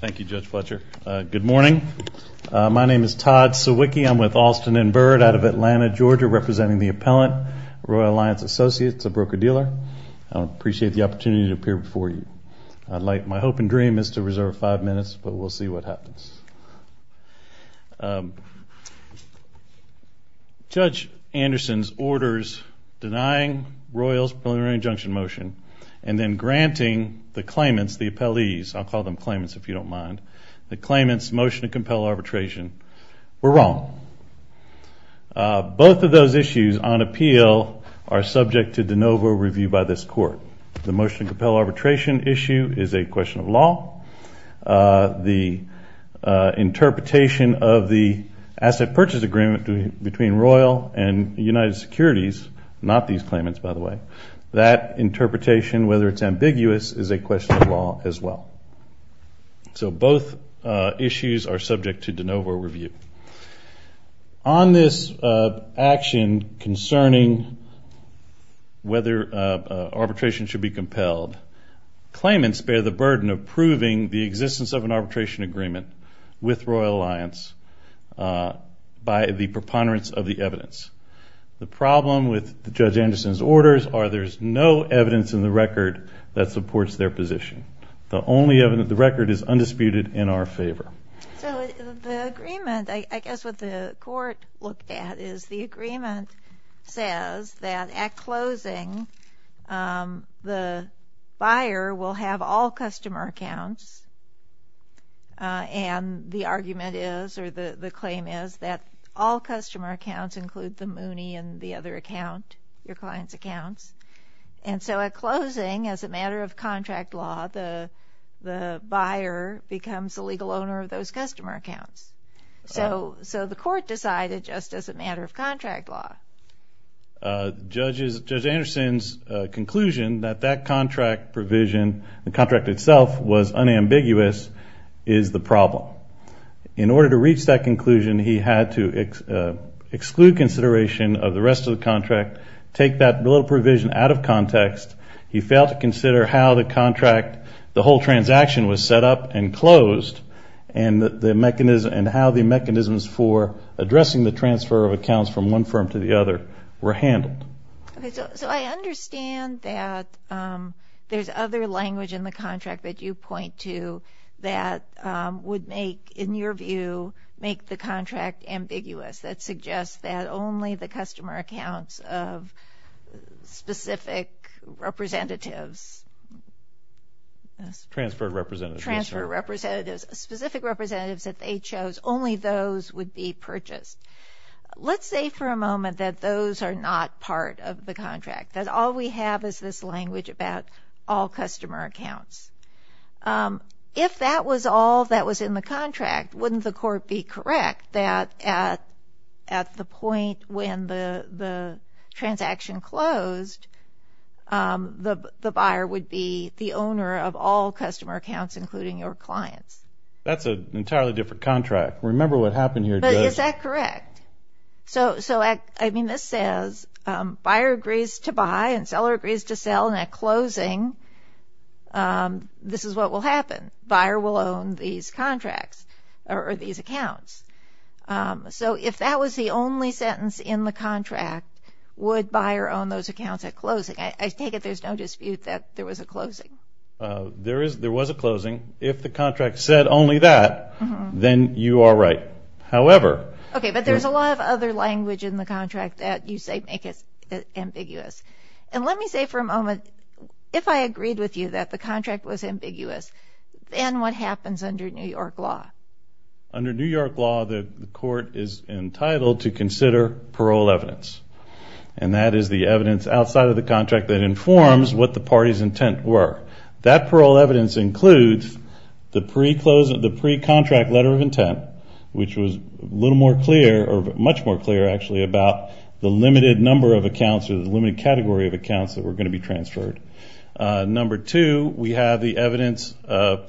Thank you, Judge Fletcher. Good morning. My name is Todd Sawicki. I'm with Alston & Bird out of Atlanta, Georgia, representing the appellant, Royal Alliance Associates, a broker-dealer. I appreciate the opportunity to appear before you. My hope and dream is to reserve five minutes, but we'll see what happens. Judge Anderson's orders denying Royals preliminary injunction motion and then granting the claimants, the appellees, I'll call them claimants if you don't mind, the claimants motion to compel arbitration were wrong. Both of those issues on appeal are subject to de novo review by this Court. The motion to compel arbitration issue is a question of law. The interpretation of the asset purchase agreement between Royal and United Securities, not these claimants, by the way, that interpretation, whether it's ambiguous, is a question of law as well. So both issues are subject to de novo review. On this action concerning whether arbitration should be compelled, claimants bear the burden of proving the existence of an arbitration agreement with Royal Alliance by the preponderance of the evidence. The problem with Judge Anderson's orders are there's no evidence in the record that supports their position. The only evidence, the record is undisputed in our favor. So the agreement, I guess what the Court looked at is the agreement says that at closing the buyer will have all customer accounts and the argument is, or the claim is, that all customer accounts include the Mooney and the other account, your client's accounts. And so at closing, as a matter of contract law, the buyer becomes the legal owner of those customer accounts. So the Court decided just as a matter of contract law. Judge Anderson's conclusion that that contract provision, the contract itself, was unambiguous is the problem. In order to reach that conclusion, he had to exclude consideration of the rest of the contract, take that little provision out of context. He failed to consider how the contract, the whole transaction was set up and closed, and the mechanism, and how the mechanisms for addressing the transfer of accounts from one firm to the other were handled. So I understand that there's other language in the contract that you point to that would make, in your view, make the contract ambiguous. That suggests that only the customer accounts of specific representatives. Transferred representatives. Transferred representatives, specific representatives that they chose, only those would be purchased. Let's say for a moment that those are not part of the contract, that all we have is this language about all customer accounts. If that was all that was in the contract, wouldn't the Court be correct that at the point when the transaction closed, the buyer would be the owner of all customer accounts, including your clients? That's an entirely different contract. Remember what happened here, Judge. But is that correct? So, I mean, this says buyer agrees to buy and seller agrees to sell, and at closing, this is what will happen. Buyer will own these contracts or these accounts. So if that was the only sentence in the contract, would buyer own those accounts at closing? I take it there's no dispute that there was a closing. There was a closing. If the contract said only that, then you are right. However. Okay, but there's a lot of other language in the contract that you say make it ambiguous. And let me say for a moment, if I agreed with you that the contract was ambiguous, then what happens under New York law? Under New York law, the Court is entitled to consider parole evidence, and that is the evidence outside of the contract that informs what the party's intent were. That parole evidence includes the pre-contract letter of intent, which was a little more clear, or much more clear, actually, about the limited number of accounts or the limited category of accounts that were going to be transferred. Number two, we have the evidence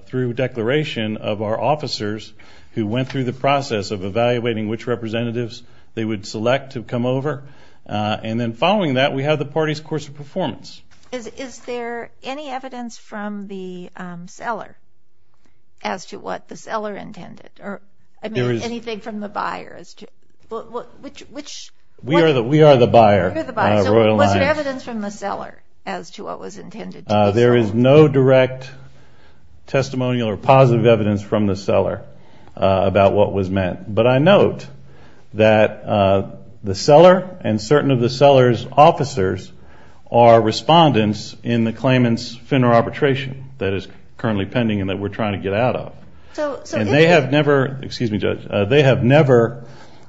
through declaration of our officers who went through the process of evaluating which representatives they would select to come over. And then following that, we have the party's course of performance. Is there any evidence from the seller as to what the seller intended? I mean, anything from the buyer as to which? We are the buyer. So was there evidence from the seller as to what was intended? There is no direct testimonial or positive evidence from the seller about what was meant. But I note that the seller and certain of the seller's officers are respondents in the claimant's FINRA arbitration that is currently pending and that we're trying to get out of. And they have never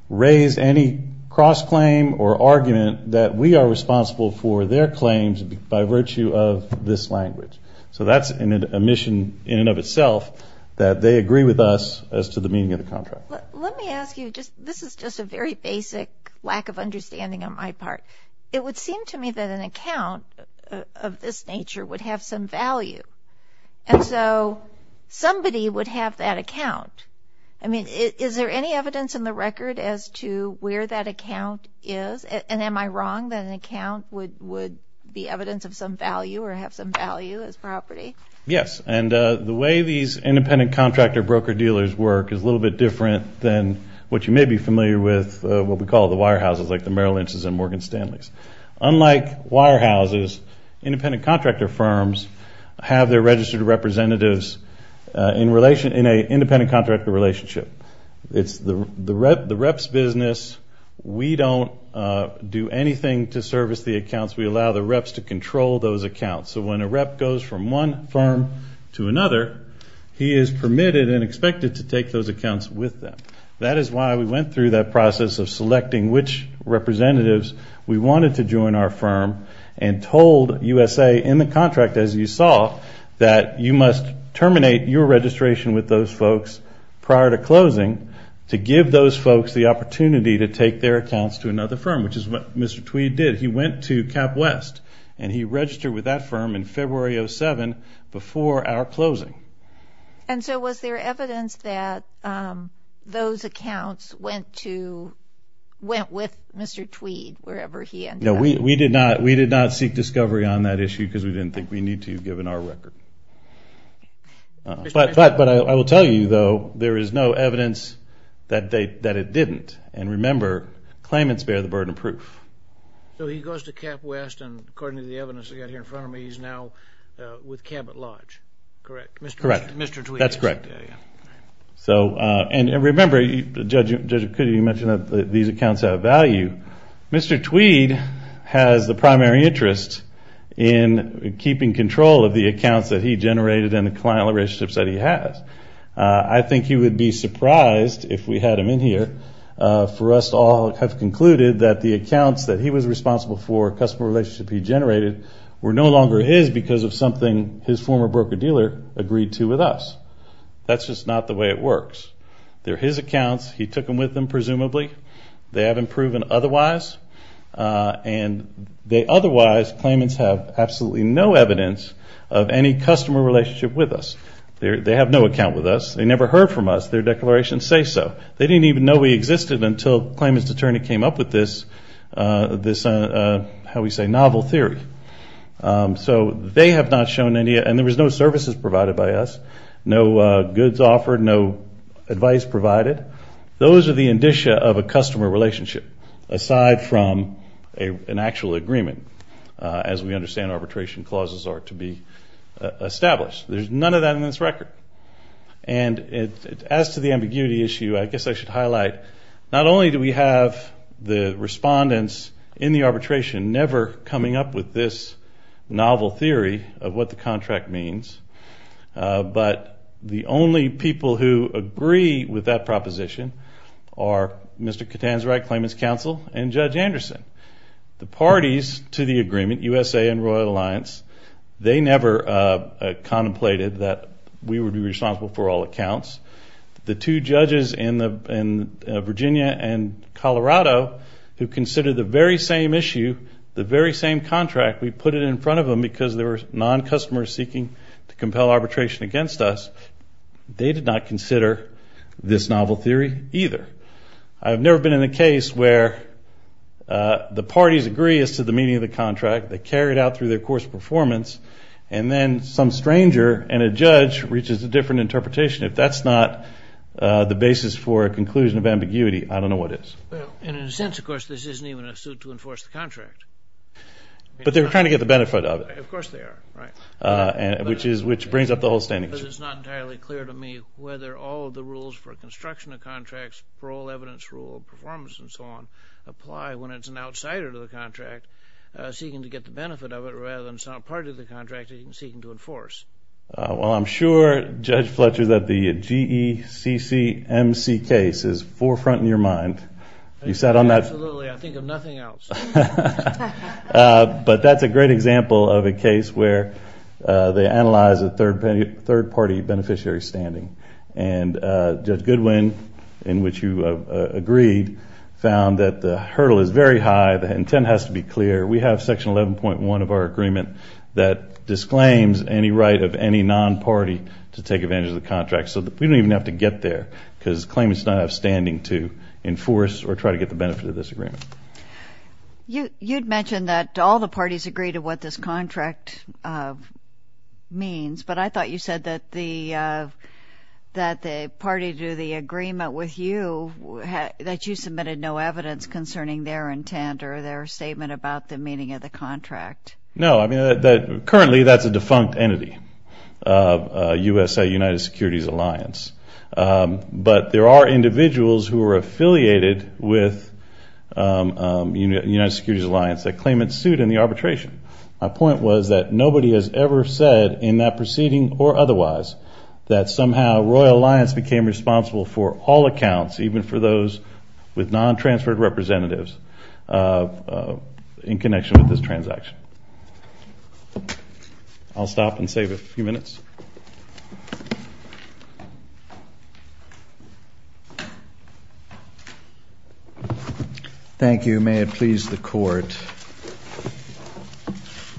raised any cross-claim or argument that we are responsible for their claims by virtue of this language. So that's a mission in and of itself, that they agree with us as to the meaning of the contract. Let me ask you, this is just a very basic lack of understanding on my part. It would seem to me that an account of this nature would have some value. And so somebody would have that account. I mean, is there any evidence in the record as to where that account is? And am I wrong that an account would be evidence of some value or have some value as property? Yes. And the way these independent contractor broker-dealers work is a little bit different than what you may be familiar with, what we call the wire houses, like the Merrill Lynch's and Morgan Stanley's. Unlike wire houses, independent contractor firms have their registered representatives in a independent contractor relationship. It's the rep's business. We don't do anything to service the accounts. We allow the reps to control those accounts. So when a rep goes from one firm to another, he is permitted and expected to take those accounts with them. That is why we went through that process of selecting which representatives we wanted to join our firm and told USA in the contract, as you saw, that you must terminate your registration with those folks prior to closing to give those folks the opportunity to take their accounts to another firm, which is what Mr. Tweed did. He went to CapWest and he registered with that firm in February of 2007 before our closing. And so was there evidence that those accounts went with Mr. Tweed wherever he ended up? No, we did not seek discovery on that issue because we didn't think we needed to given our record. But I will tell you, though, there is no evidence that it didn't. And remember, claimants bear the burden of proof. So he goes to CapWest, and according to the evidence I've got here in front of me, he's now with Cabot Lodge, correct? Mr. Tweed. That's correct. And remember, Judge, you mentioned that these accounts have value. Mr. Tweed has the primary interest in keeping control of the accounts that he generated and the client relationships that he has. I think you would be surprised if we had him in here for us to all have concluded that the accounts that he was responsible for a customer relationship he generated were no longer his because of something his former broker dealer agreed to with us. That's just not the way it works. They're his accounts. He took them with him, presumably. They haven't proven otherwise. And otherwise, claimants have absolutely no evidence of any customer relationship with us. They have no account with us. They never heard from us. Their declarations say so. They didn't even know we existed until the claimant's attorney came up with this, how we say, novel theory. So they have not shown any, and there was no services provided by us, no goods offered, no advice provided. Those are the indicia of a customer relationship aside from an actual agreement, as we understand arbitration clauses are to be established. There's none of that in this record. And as to the ambiguity issue, I guess I should highlight not only do we have the respondents in the arbitration never coming up with this novel theory of what the contract means, but the only people who agree with that proposition are Mr. Katan's right claimant's counsel and Judge Anderson. The parties to the agreement, USA and Royal Alliance, they never contemplated that we would be responsible for all accounts. The two judges in Virginia and Colorado who considered the very same issue, the very same contract, we put it in front of them because there were non-customers seeking to compel arbitration against us. They did not consider this novel theory either. I've never been in a case where the parties agree as to the meaning of the contract. They carry it out through their course of performance, and then some stranger and a judge reaches a different interpretation. If that's not the basis for a conclusion of ambiguity, I don't know what is. And in a sense, of course, this isn't even a suit to enforce the contract. But they were trying to get the benefit of it. Of course they are, right. Which brings up the whole standing issue. But it's not entirely clear to me whether all of the rules for construction of contracts, parole evidence rule, performance and so on, apply when it's an outsider to the contract seeking to get the benefit of it rather than some part of the contract seeking to enforce. Well, I'm sure, Judge Fletcher, that the GECC MC case is forefront in your mind. Absolutely. I think of nothing else. But that's a great example of a case where they analyze a third-party beneficiary standing. And Judge Goodwin, in which you agreed, found that the hurdle is very high. The intent has to be clear. We have Section 11.1 of our agreement that disclaims any right of any non-party to take advantage of the contract. So we don't even have to get there because claimants don't have standing to enforce or try to get the benefit of this agreement. You had mentioned that all the parties agree to what this contract means. But I thought you said that the party to the agreement with you, that you submitted no evidence concerning their intent or their statement about the meaning of the contract. No, I mean, currently that's a defunct entity. USA, United Securities Alliance. But there are individuals who are affiliated with United Securities Alliance that claimant sued in the arbitration. My point was that nobody has ever said in that proceeding or otherwise that somehow Royal Alliance became responsible for all accounts, even for those with non-transferred representatives in connection with this transaction. I'll stop and save a few minutes. Thank you. May it please the Court.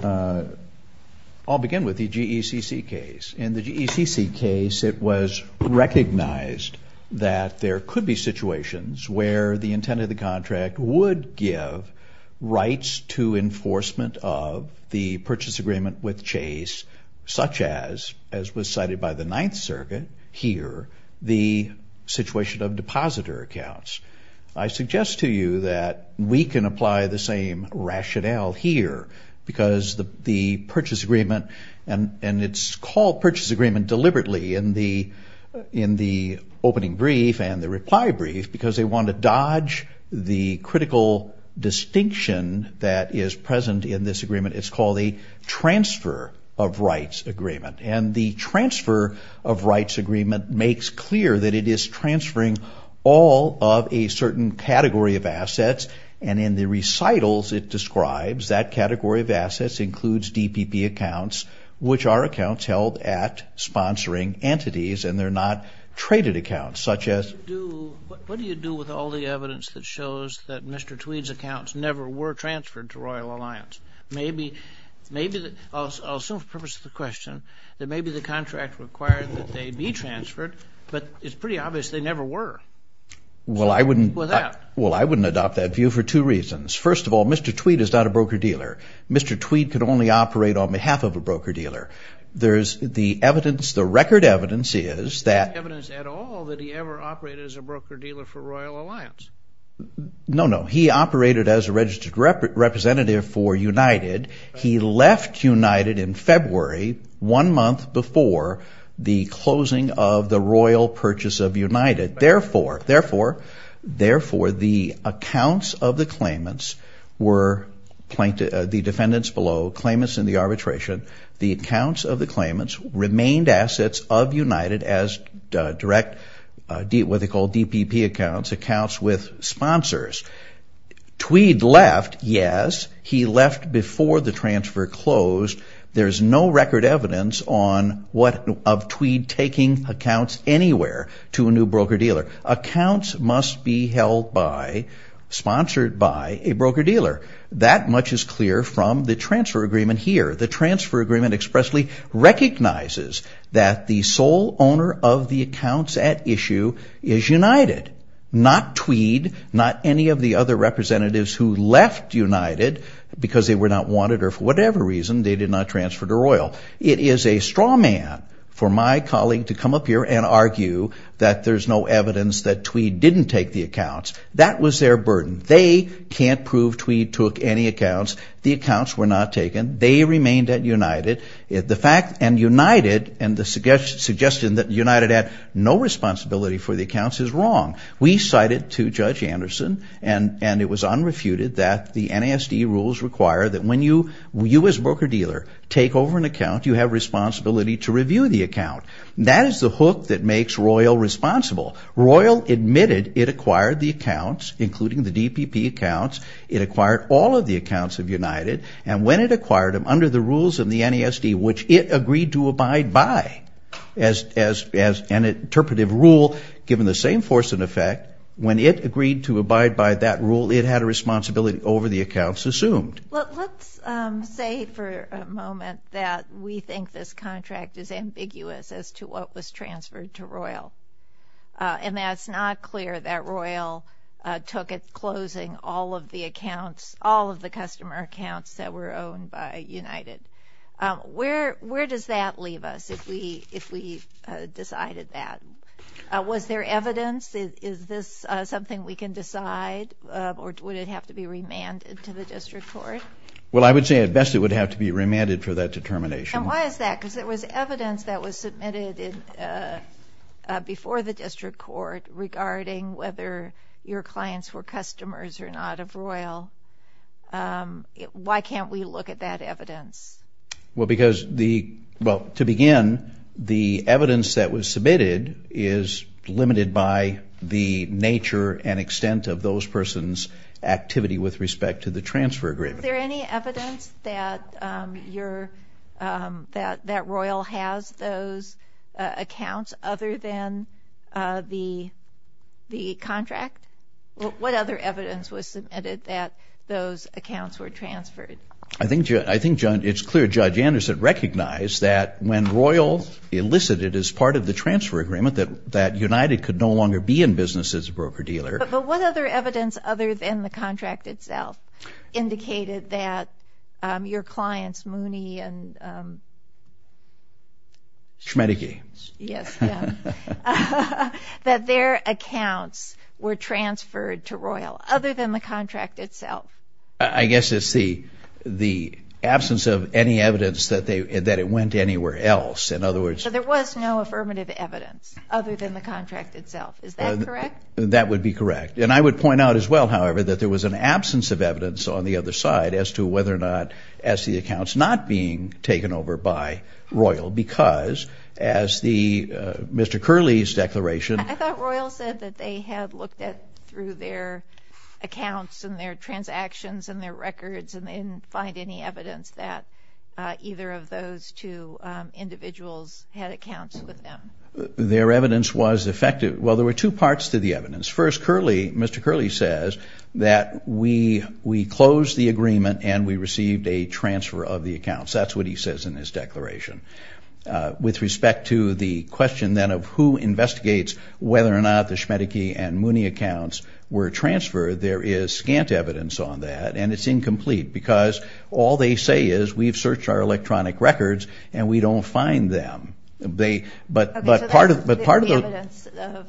I'll begin with the GECC case. In the GECC case, it was recognized that there could be situations where the intent of the contract would give rights to enforcement of the purchase agreement with Chase, such as was cited by the Ninth Circuit here, the situation of depositor accounts. I suggest to you that we can apply the same rationale here because the purchase agreement and it's called purchase agreement deliberately in the opening brief and the reply brief because they want to dodge the critical distinction that is present in this agreement. It's called a transfer of rights agreement. And the transfer of rights agreement makes clear that it is transferring all of a certain category of assets. And in the recitals, it describes that category of assets includes DPP accounts, which are accounts held at sponsoring entities and they're not traded accounts, such as... What do you do with all the evidence that shows that Mr. Tweed's accounts never were transferred to Royal Alliance? Maybe, I'll assume for the purpose of the question, that maybe the contract required that they be transferred, but it's pretty obvious they never were. Well, I wouldn't adopt that view for two reasons. First of all, Mr. Tweed is not a broker-dealer. Mr. Tweed could only operate on behalf of a broker-dealer. There's the evidence, the record evidence is that... There's no evidence at all that he ever operated as a broker-dealer for Royal Alliance. No, no. He operated as a registered representative for United. He left United in February, one month before the closing of the Royal purchase of United. Therefore, the accounts of the claimants were... The defendants below, claimants in the arbitration, the accounts of the claimants remained assets of United as direct... What they call DPP accounts, accounts with sponsors. Tweed left, yes. He left before the transfer closed. There's no record evidence of Tweed taking accounts anywhere to a new broker-dealer. Accounts must be held by, sponsored by, a broker-dealer. That much is clear from the transfer agreement here. The transfer agreement expressly recognizes that the sole owner of the accounts at issue is United, not Tweed, not any of the other representatives who left United because they were not wanted or for whatever reason they did not transfer to Royal. It is a straw man for my colleague to come up here and argue that there's no evidence that Tweed didn't take the accounts. That was their burden. They can't prove Tweed took any accounts. The accounts were not taken. They remained at United. The fact... And United and the suggestion that United had no responsibility for the accounts is wrong. We cited to Judge Anderson, and it was unrefuted, that the NASD rules require that when you, you as broker-dealer, take over an account, you have responsibility to review the account. That is the hook that makes Royal responsible. Royal admitted it acquired the accounts, including the DPP accounts. It acquired all of the accounts of United, and when it acquired them under the rules of the NASD, which it agreed to abide by as an interpretive rule, given the same force and effect, that when it agreed to abide by that rule, it had a responsibility over the accounts assumed. Let's say for a moment that we think this contract is ambiguous as to what was transferred to Royal, and that it's not clear that Royal took it closing all of the accounts, all of the customer accounts that were owned by United. Where does that leave us if we decided that? Was there evidence? Is this something we can decide, or would it have to be remanded to the district court? Well, I would say at best it would have to be remanded for that determination. And why is that? Because there was evidence that was submitted before the district court regarding whether your clients were customers or not of Royal. Why can't we look at that evidence? Well, to begin, the evidence that was submitted is limited by the nature and extent of those persons' activity with respect to the transfer agreement. Is there any evidence that Royal has those accounts other than the contract? What other evidence was submitted that those accounts were transferred? I think it's clear Judge Anderson recognized that when Royal elicited as part of the transfer agreement that United could no longer be in business as a broker-dealer. But what other evidence other than the contract itself indicated that your clients, Mooney and Schmedegee, that their accounts were transferred to Royal other than the contract itself? I guess it's the absence of any evidence that it went anywhere else. So there was no affirmative evidence other than the contract itself. Is that correct? That would be correct. And I would point out as well, however, that there was an absence of evidence on the other side as to whether or not the accounts were not being taken over by Royal. Because as Mr. Curley's declaration... I thought Royal said that they had looked through their accounts and their transactions and their records and they didn't find any evidence that either of those two individuals had accounts with them. Their evidence was effective. Well, there were two parts to the evidence. First, Mr. Curley says that we closed the agreement and we received a transfer of the accounts. That's what he says in his declaration. With respect to the question then of who investigates whether or not the Schmedegee and Mooney accounts were transferred, there is scant evidence on that and it's incomplete because all they say is we've searched our electronic records and we don't find them. But part of the...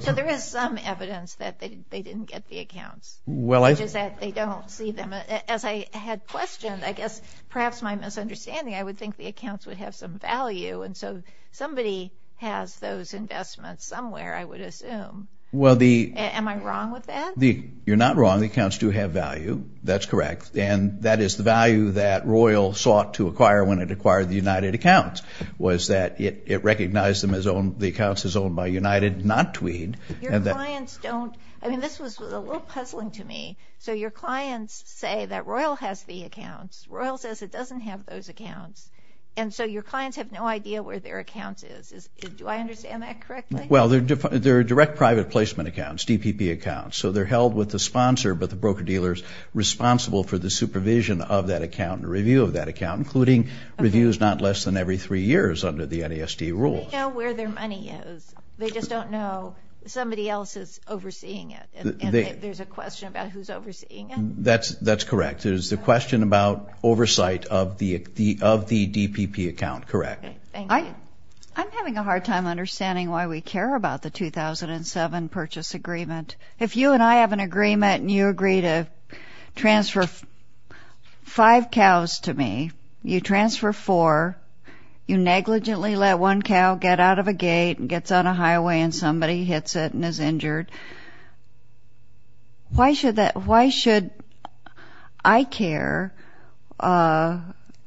So there is some evidence that they didn't get the accounts, which is that they don't see them. As I had questioned, I guess perhaps my misunderstanding, I would think the accounts would have some value and so somebody has those investments somewhere, I would assume. Am I wrong with that? You're not wrong. The accounts do have value. That's correct. And that is the value that Royal sought to acquire when it acquired the United accounts was that it recognized the accounts as owned by United, not Tweed. Your clients don't... I mean, this was a little puzzling to me. So your clients say that Royal has the accounts. And so your clients have no idea where their accounts is. Do I understand that correctly? Well, they're direct private placement accounts, DPP accounts. So they're held with the sponsor, but the broker-dealer is responsible for the supervision of that account and review of that account, including reviews not less than every three years under the NASD rules. They know where their money is. They just don't know somebody else is overseeing it. And there's a question about who's overseeing it. That's correct. It is the question about oversight of the DPP account, correct. I'm having a hard time understanding why we care about the 2007 purchase agreement. If you and I have an agreement and you agree to transfer five cows to me, you transfer four, you negligently let one cow get out of a gate and gets on a highway and somebody hits it and is injured, why should I care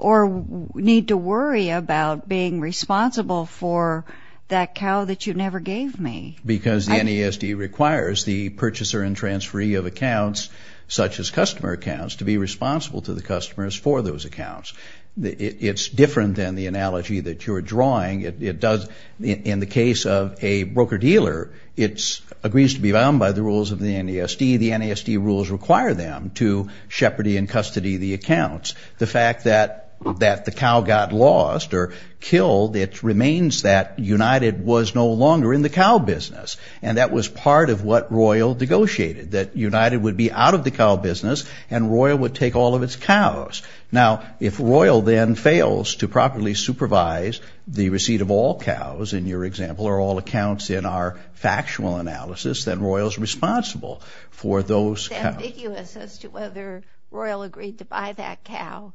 or need to worry about being responsible for that cow that you never gave me? Because the NASD requires the purchaser and transferee of accounts, such as customer accounts, to be responsible to the customers for those accounts. It's different than the analogy that you're drawing. In the case of a broker-dealer, it agrees to be bound by the rules of the NASD. The NASD rules require them to shepherdy in custody the accounts. The fact that the cow got lost or killed, it remains that United was no longer in the cow business, and that was part of what Royal negotiated, that United would be out of the cow business and Royal would take all of its cows. Now, if Royal then fails to properly supervise the receipt of all cows, in your example, or all accounts in our factual analysis, then Royal is responsible for those cows. It's ambiguous as to whether Royal agreed to buy that cow.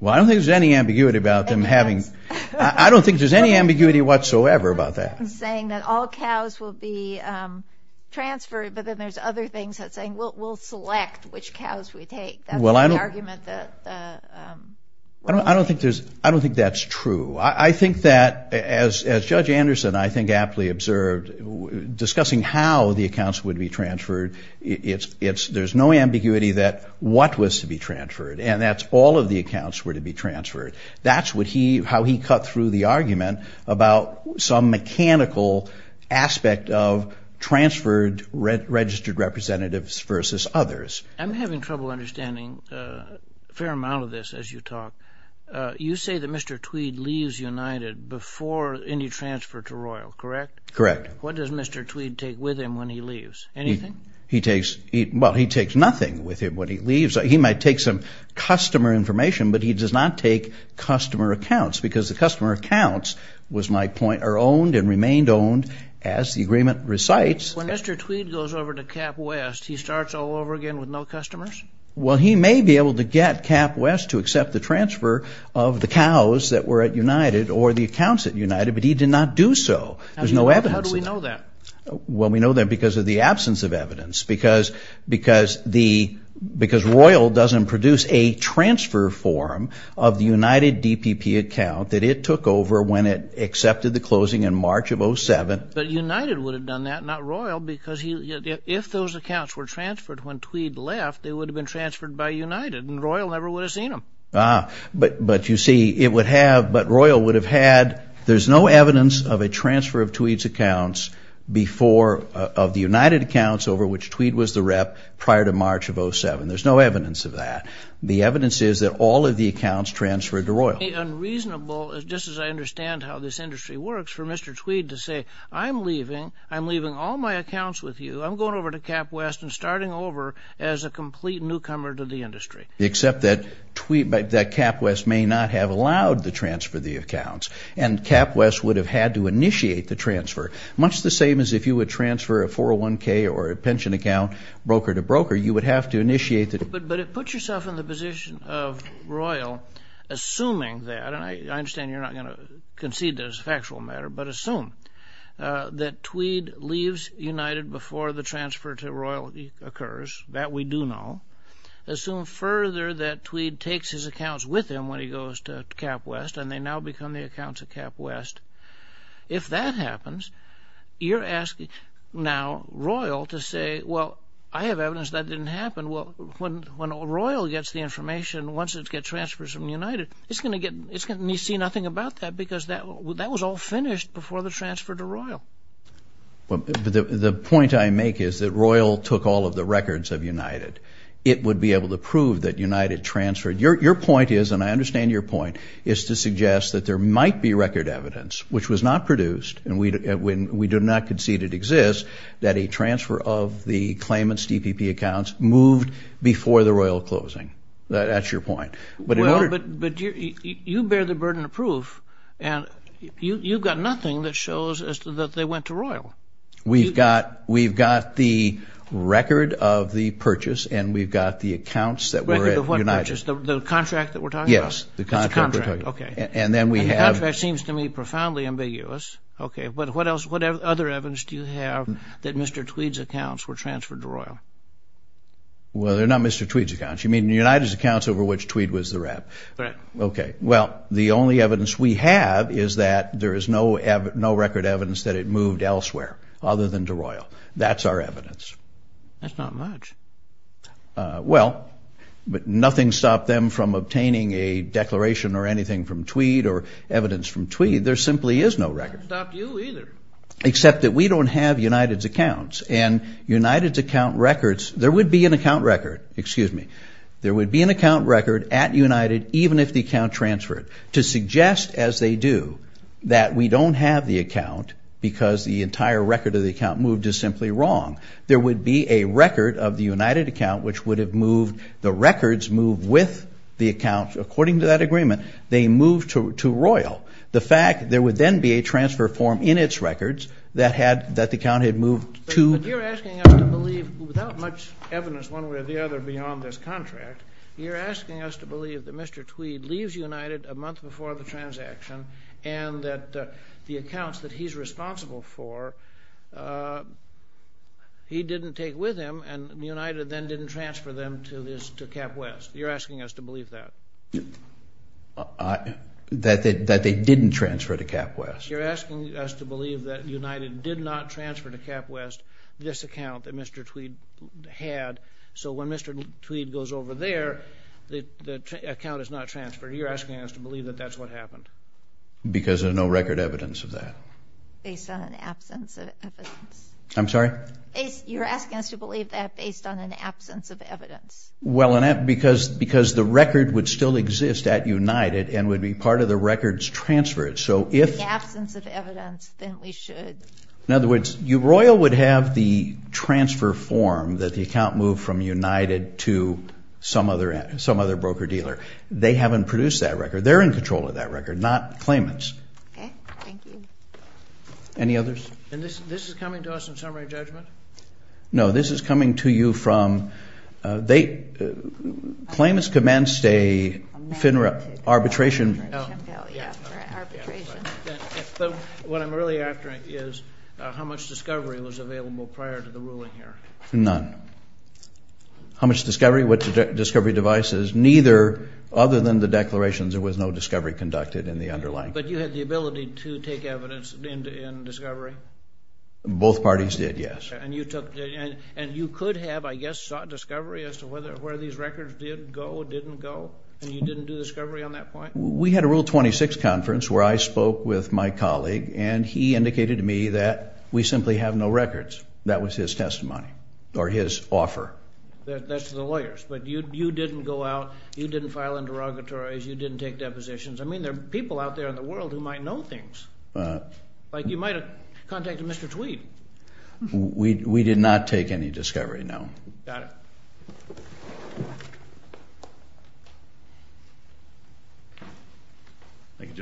Well, I don't think there's any ambiguity about them having... I don't think there's any ambiguity whatsoever about that. You're saying that all cows will be transferred, but then there's other things that say we'll select which cows we take. That's the argument that... I don't think that's true. I think that, as Judge Anderson, I think, aptly observed, discussing how the accounts would be transferred, there's no ambiguity that what was to be transferred, and that's all of the accounts were to be transferred. That's how he cut through the argument about some mechanical aspect of transferred registered representatives versus others. I'm having trouble understanding a fair amount of this as you talk. You say that Mr. Tweed leaves United before any transfer to Royal, correct? Correct. What does Mr. Tweed take with him when he leaves? Anything? He takes... well, he takes nothing with him when he leaves. He might take some customer information, but he does not take customer accounts, because the customer accounts, was my point, are owned and remained owned as the agreement recites. When Mr. Tweed goes over to Cap West, he starts all over again with no customers? Well, he may be able to get Cap West to accept the transfer of the cows that were at United or the accounts at United, but he did not do so. How do we know that? Well, we know that because of the absence of evidence, because Royal doesn't produce a transfer form of the United DPP account that it took over when it accepted the closing in March of 07. But United would have done that, not Royal, because if those accounts were transferred when Tweed left, they would have been transferred by United, and Royal never would have seen them. But you see, it would have... but Royal would have had... there's no evidence of a transfer of Tweed's accounts before... of the United accounts over which Tweed was the rep prior to March of 07. There's no evidence of that. The evidence is that all of the accounts transferred to Royal. It would be unreasonable, just as I understand how this industry works, for Mr. Tweed to say, I'm leaving, I'm leaving all my accounts with you, I'm going over to Cap West and starting over as a complete newcomer to the industry. Except that Tweed... that Cap West may not have allowed the transfer of the accounts, and Cap West would have had to initiate the transfer, much the same as if you would transfer a 401k or a pension account broker to broker, you would have to initiate the... But put yourself in the position of Royal, assuming that, and I understand you're not going to concede to this factual matter, but assume that Tweed leaves United before the transfer to Royal occurs. That we do know. Assume further that Tweed takes his accounts with him when he goes to Cap West, and they now become the accounts of Cap West. If that happens, you're asking now Royal to say, well, I have evidence that didn't happen. Well, when Royal gets the information, once it gets transferred from United, it's going to get me to see nothing about that, because that was all finished before the transfer to Royal. The point I make is that Royal took all of the records of United. It would be able to prove that United transferred. Your point is, and I understand your point, is to suggest that there might be record evidence, which was not produced, and we do not concede it exists, that a transfer of the claimants' DPP accounts moved before the Royal closing. That's your point. But you bear the burden of proof, and you've got nothing that shows that they went to Royal. We've got the record of the purchase, and we've got the accounts that were at United. The record of what purchase? The contract that we're talking about? Yes, the contract. The contract seems to me profoundly ambiguous. What other evidence do you have that Mr. Tweed's accounts were transferred to Royal? Well, they're not Mr. Tweed's accounts. You mean United's accounts over which Tweed was the rep? Correct. Well, the only evidence we have is that there is no record evidence that it moved elsewhere other than to Royal. That's our evidence. That's not much. Well, but nothing stopped them from obtaining a declaration or anything from Tweed or evidence from Tweed. There simply is no record. Nothing stopped you either. Except that we don't have United's accounts, and United's account records, there would be an account record, excuse me, there would be an account record at United, even if the account transferred, to suggest as they do that we don't have the account because the entire record of the account moved is simply wrong. There would be a record of the United account which would have moved, the records moved with the account according to that agreement. They moved to Royal. The fact there would then be a transfer form in its records that the account had moved to. But you're asking us to believe without much evidence one way or the other beyond this contract, you're asking us to believe that Mr. Tweed leaves United a month before the transaction and that the accounts that he's responsible for he didn't take with him and United then didn't transfer them to CapWest. You're asking us to believe that. That they didn't transfer to CapWest. You're asking us to believe that United did not transfer to CapWest this account that Mr. Tweed had, so when Mr. Tweed goes over there, the account is not transferred. You're asking us to believe that that's what happened. Because there's no record evidence of that. Based on an absence of evidence. I'm sorry? You're asking us to believe that based on an absence of evidence. Well, because the record would still exist at United and would be part of the records transferred. If absence of evidence, then we should. In other words, Royal would have the transfer form that the account moved from United to some other broker dealer. They haven't produced that record. They're in control of that record, not claimants. Okay. Thank you. Any others? And this is coming to us in summary judgment? No, this is coming to you from they claimants commenced a FINRA arbitration. Yeah, arbitration. What I'm really after is how much discovery was available prior to the ruling here. None. How much discovery? What discovery devices? Neither. Other than the declarations, there was no discovery conducted in the underlying. But you had the ability to take evidence in discovery? Both parties did, yes. And you could have, I guess, sought discovery as to where these records did go, didn't go, and you didn't do discovery on that point? We had a Rule 26 conference where I spoke with my colleague, and he indicated to me that we simply have no records. That was his testimony, or his offer. That's to the lawyers. But you didn't go out, you didn't file interrogatories, you didn't take depositions. I mean, there are people out there in the world who might know things. Like you might have contacted Mr. Tweed. We did not take any discovery, no. Got it. Thank you,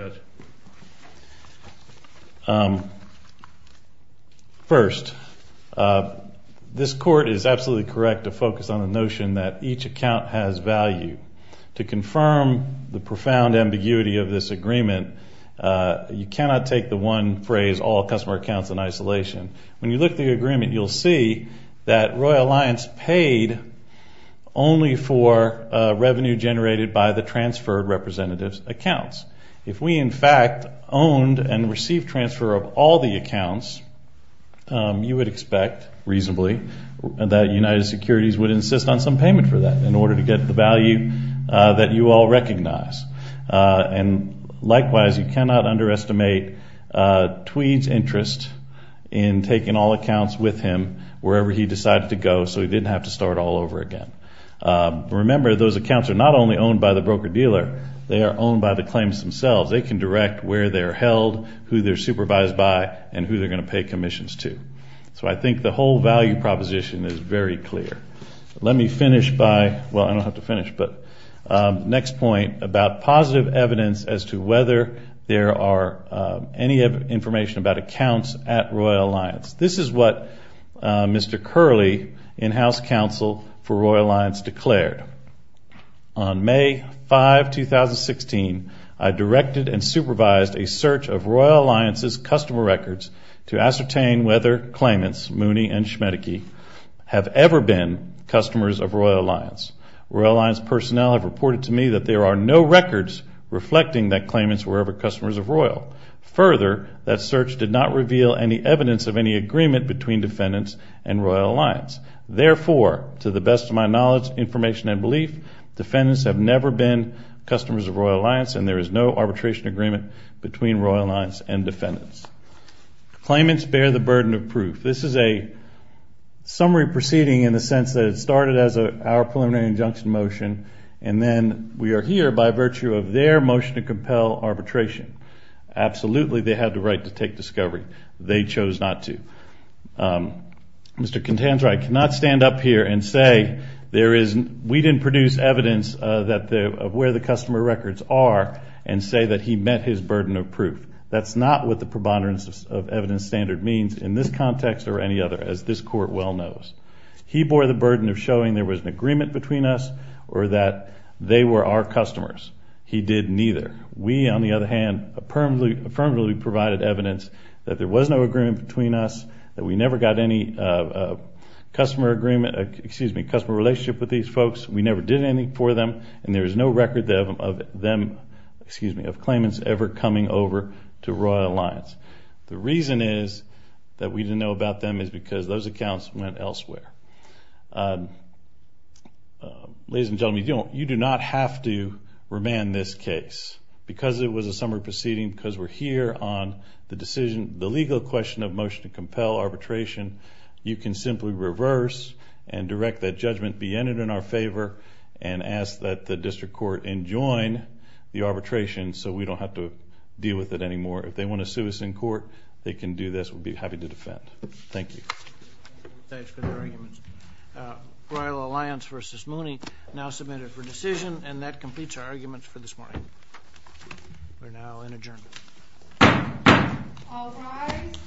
Judge. First, this Court is absolutely correct to focus on the notion that each account has value. To confirm the profound ambiguity of this agreement, you cannot take the one phrase, all customer accounts in isolation. When you look at the agreement, you'll see that Royal Alliance paid only for revenue generated by the transferred representative's accounts. If we, in fact, owned and received transfer of all the accounts, you would expect reasonably that United Securities would insist on some payment for that in order to get the value that you all recognize. And likewise, you cannot underestimate Tweed's interest in taking all accounts with him wherever he decided to go so he didn't have to start all over again. Remember, those accounts are not only owned by the broker-dealer, they are owned by the claims themselves. They can direct where they're held, who they're supervised by, and who they're going to pay commissions to. So I think the whole value proposition is very clear. Let me finish by, well, I don't have to finish, but next point about positive evidence as to whether there are any information about accounts at Royal Alliance. This is what Mr. Curley in House Counsel for Royal Alliance declared. On May 5, 2016, I directed and supervised a search of Royal Alliance's customer records to ascertain whether claimants, Mooney and Schmedeke, have ever been customers of Royal Alliance. Royal Alliance personnel have reported to me that there are no records reflecting that claimants were ever customers of Royal. Further, that search did not reveal any evidence of any agreement between defendants and Royal Alliance. Therefore, to the best of my knowledge, information, and belief, defendants have never been customers of Royal Alliance, and there is no arbitration agreement between Royal Alliance and defendants. Claimants bear the burden of proof. This is a summary proceeding in the sense that it started as our preliminary injunction motion, and then we are here by virtue of their motion to compel arbitration. Absolutely, they had the right to take discovery. They chose not to. Mr. Contantra, I cannot stand up here and say we didn't produce evidence of where the customer records are and say that he met his burden of proof. That's not what the preponderance of evidence standard means in this context or any other, as this Court well knows. He bore the burden of showing there was an agreement between us or that they were our customers. He did neither. We, on the other hand, affirmatively provided evidence that there was no agreement between us, that we never got any customer relationship with these folks, we never did anything for them, and there is no record of them, excuse me, of claimants ever coming over to Royal Alliance. The reason is that we didn't know about them is because those accounts went elsewhere. Ladies and gentlemen, you do not have to remand this case because it was a summary proceeding, because we're here on the decision, the legal question of motion to compel arbitration. You can simply reverse and direct that judgment be entered in our favor and ask that the district court enjoin the arbitration so we don't have to deal with it anymore. If they want to sue us in court, they can do this. We'll be happy to defend. Thank you. Thanks for the arguments. Royal Alliance v. Mooney now submitted for decision, and that completes our arguments for this morning. We're now in adjournment. All rise.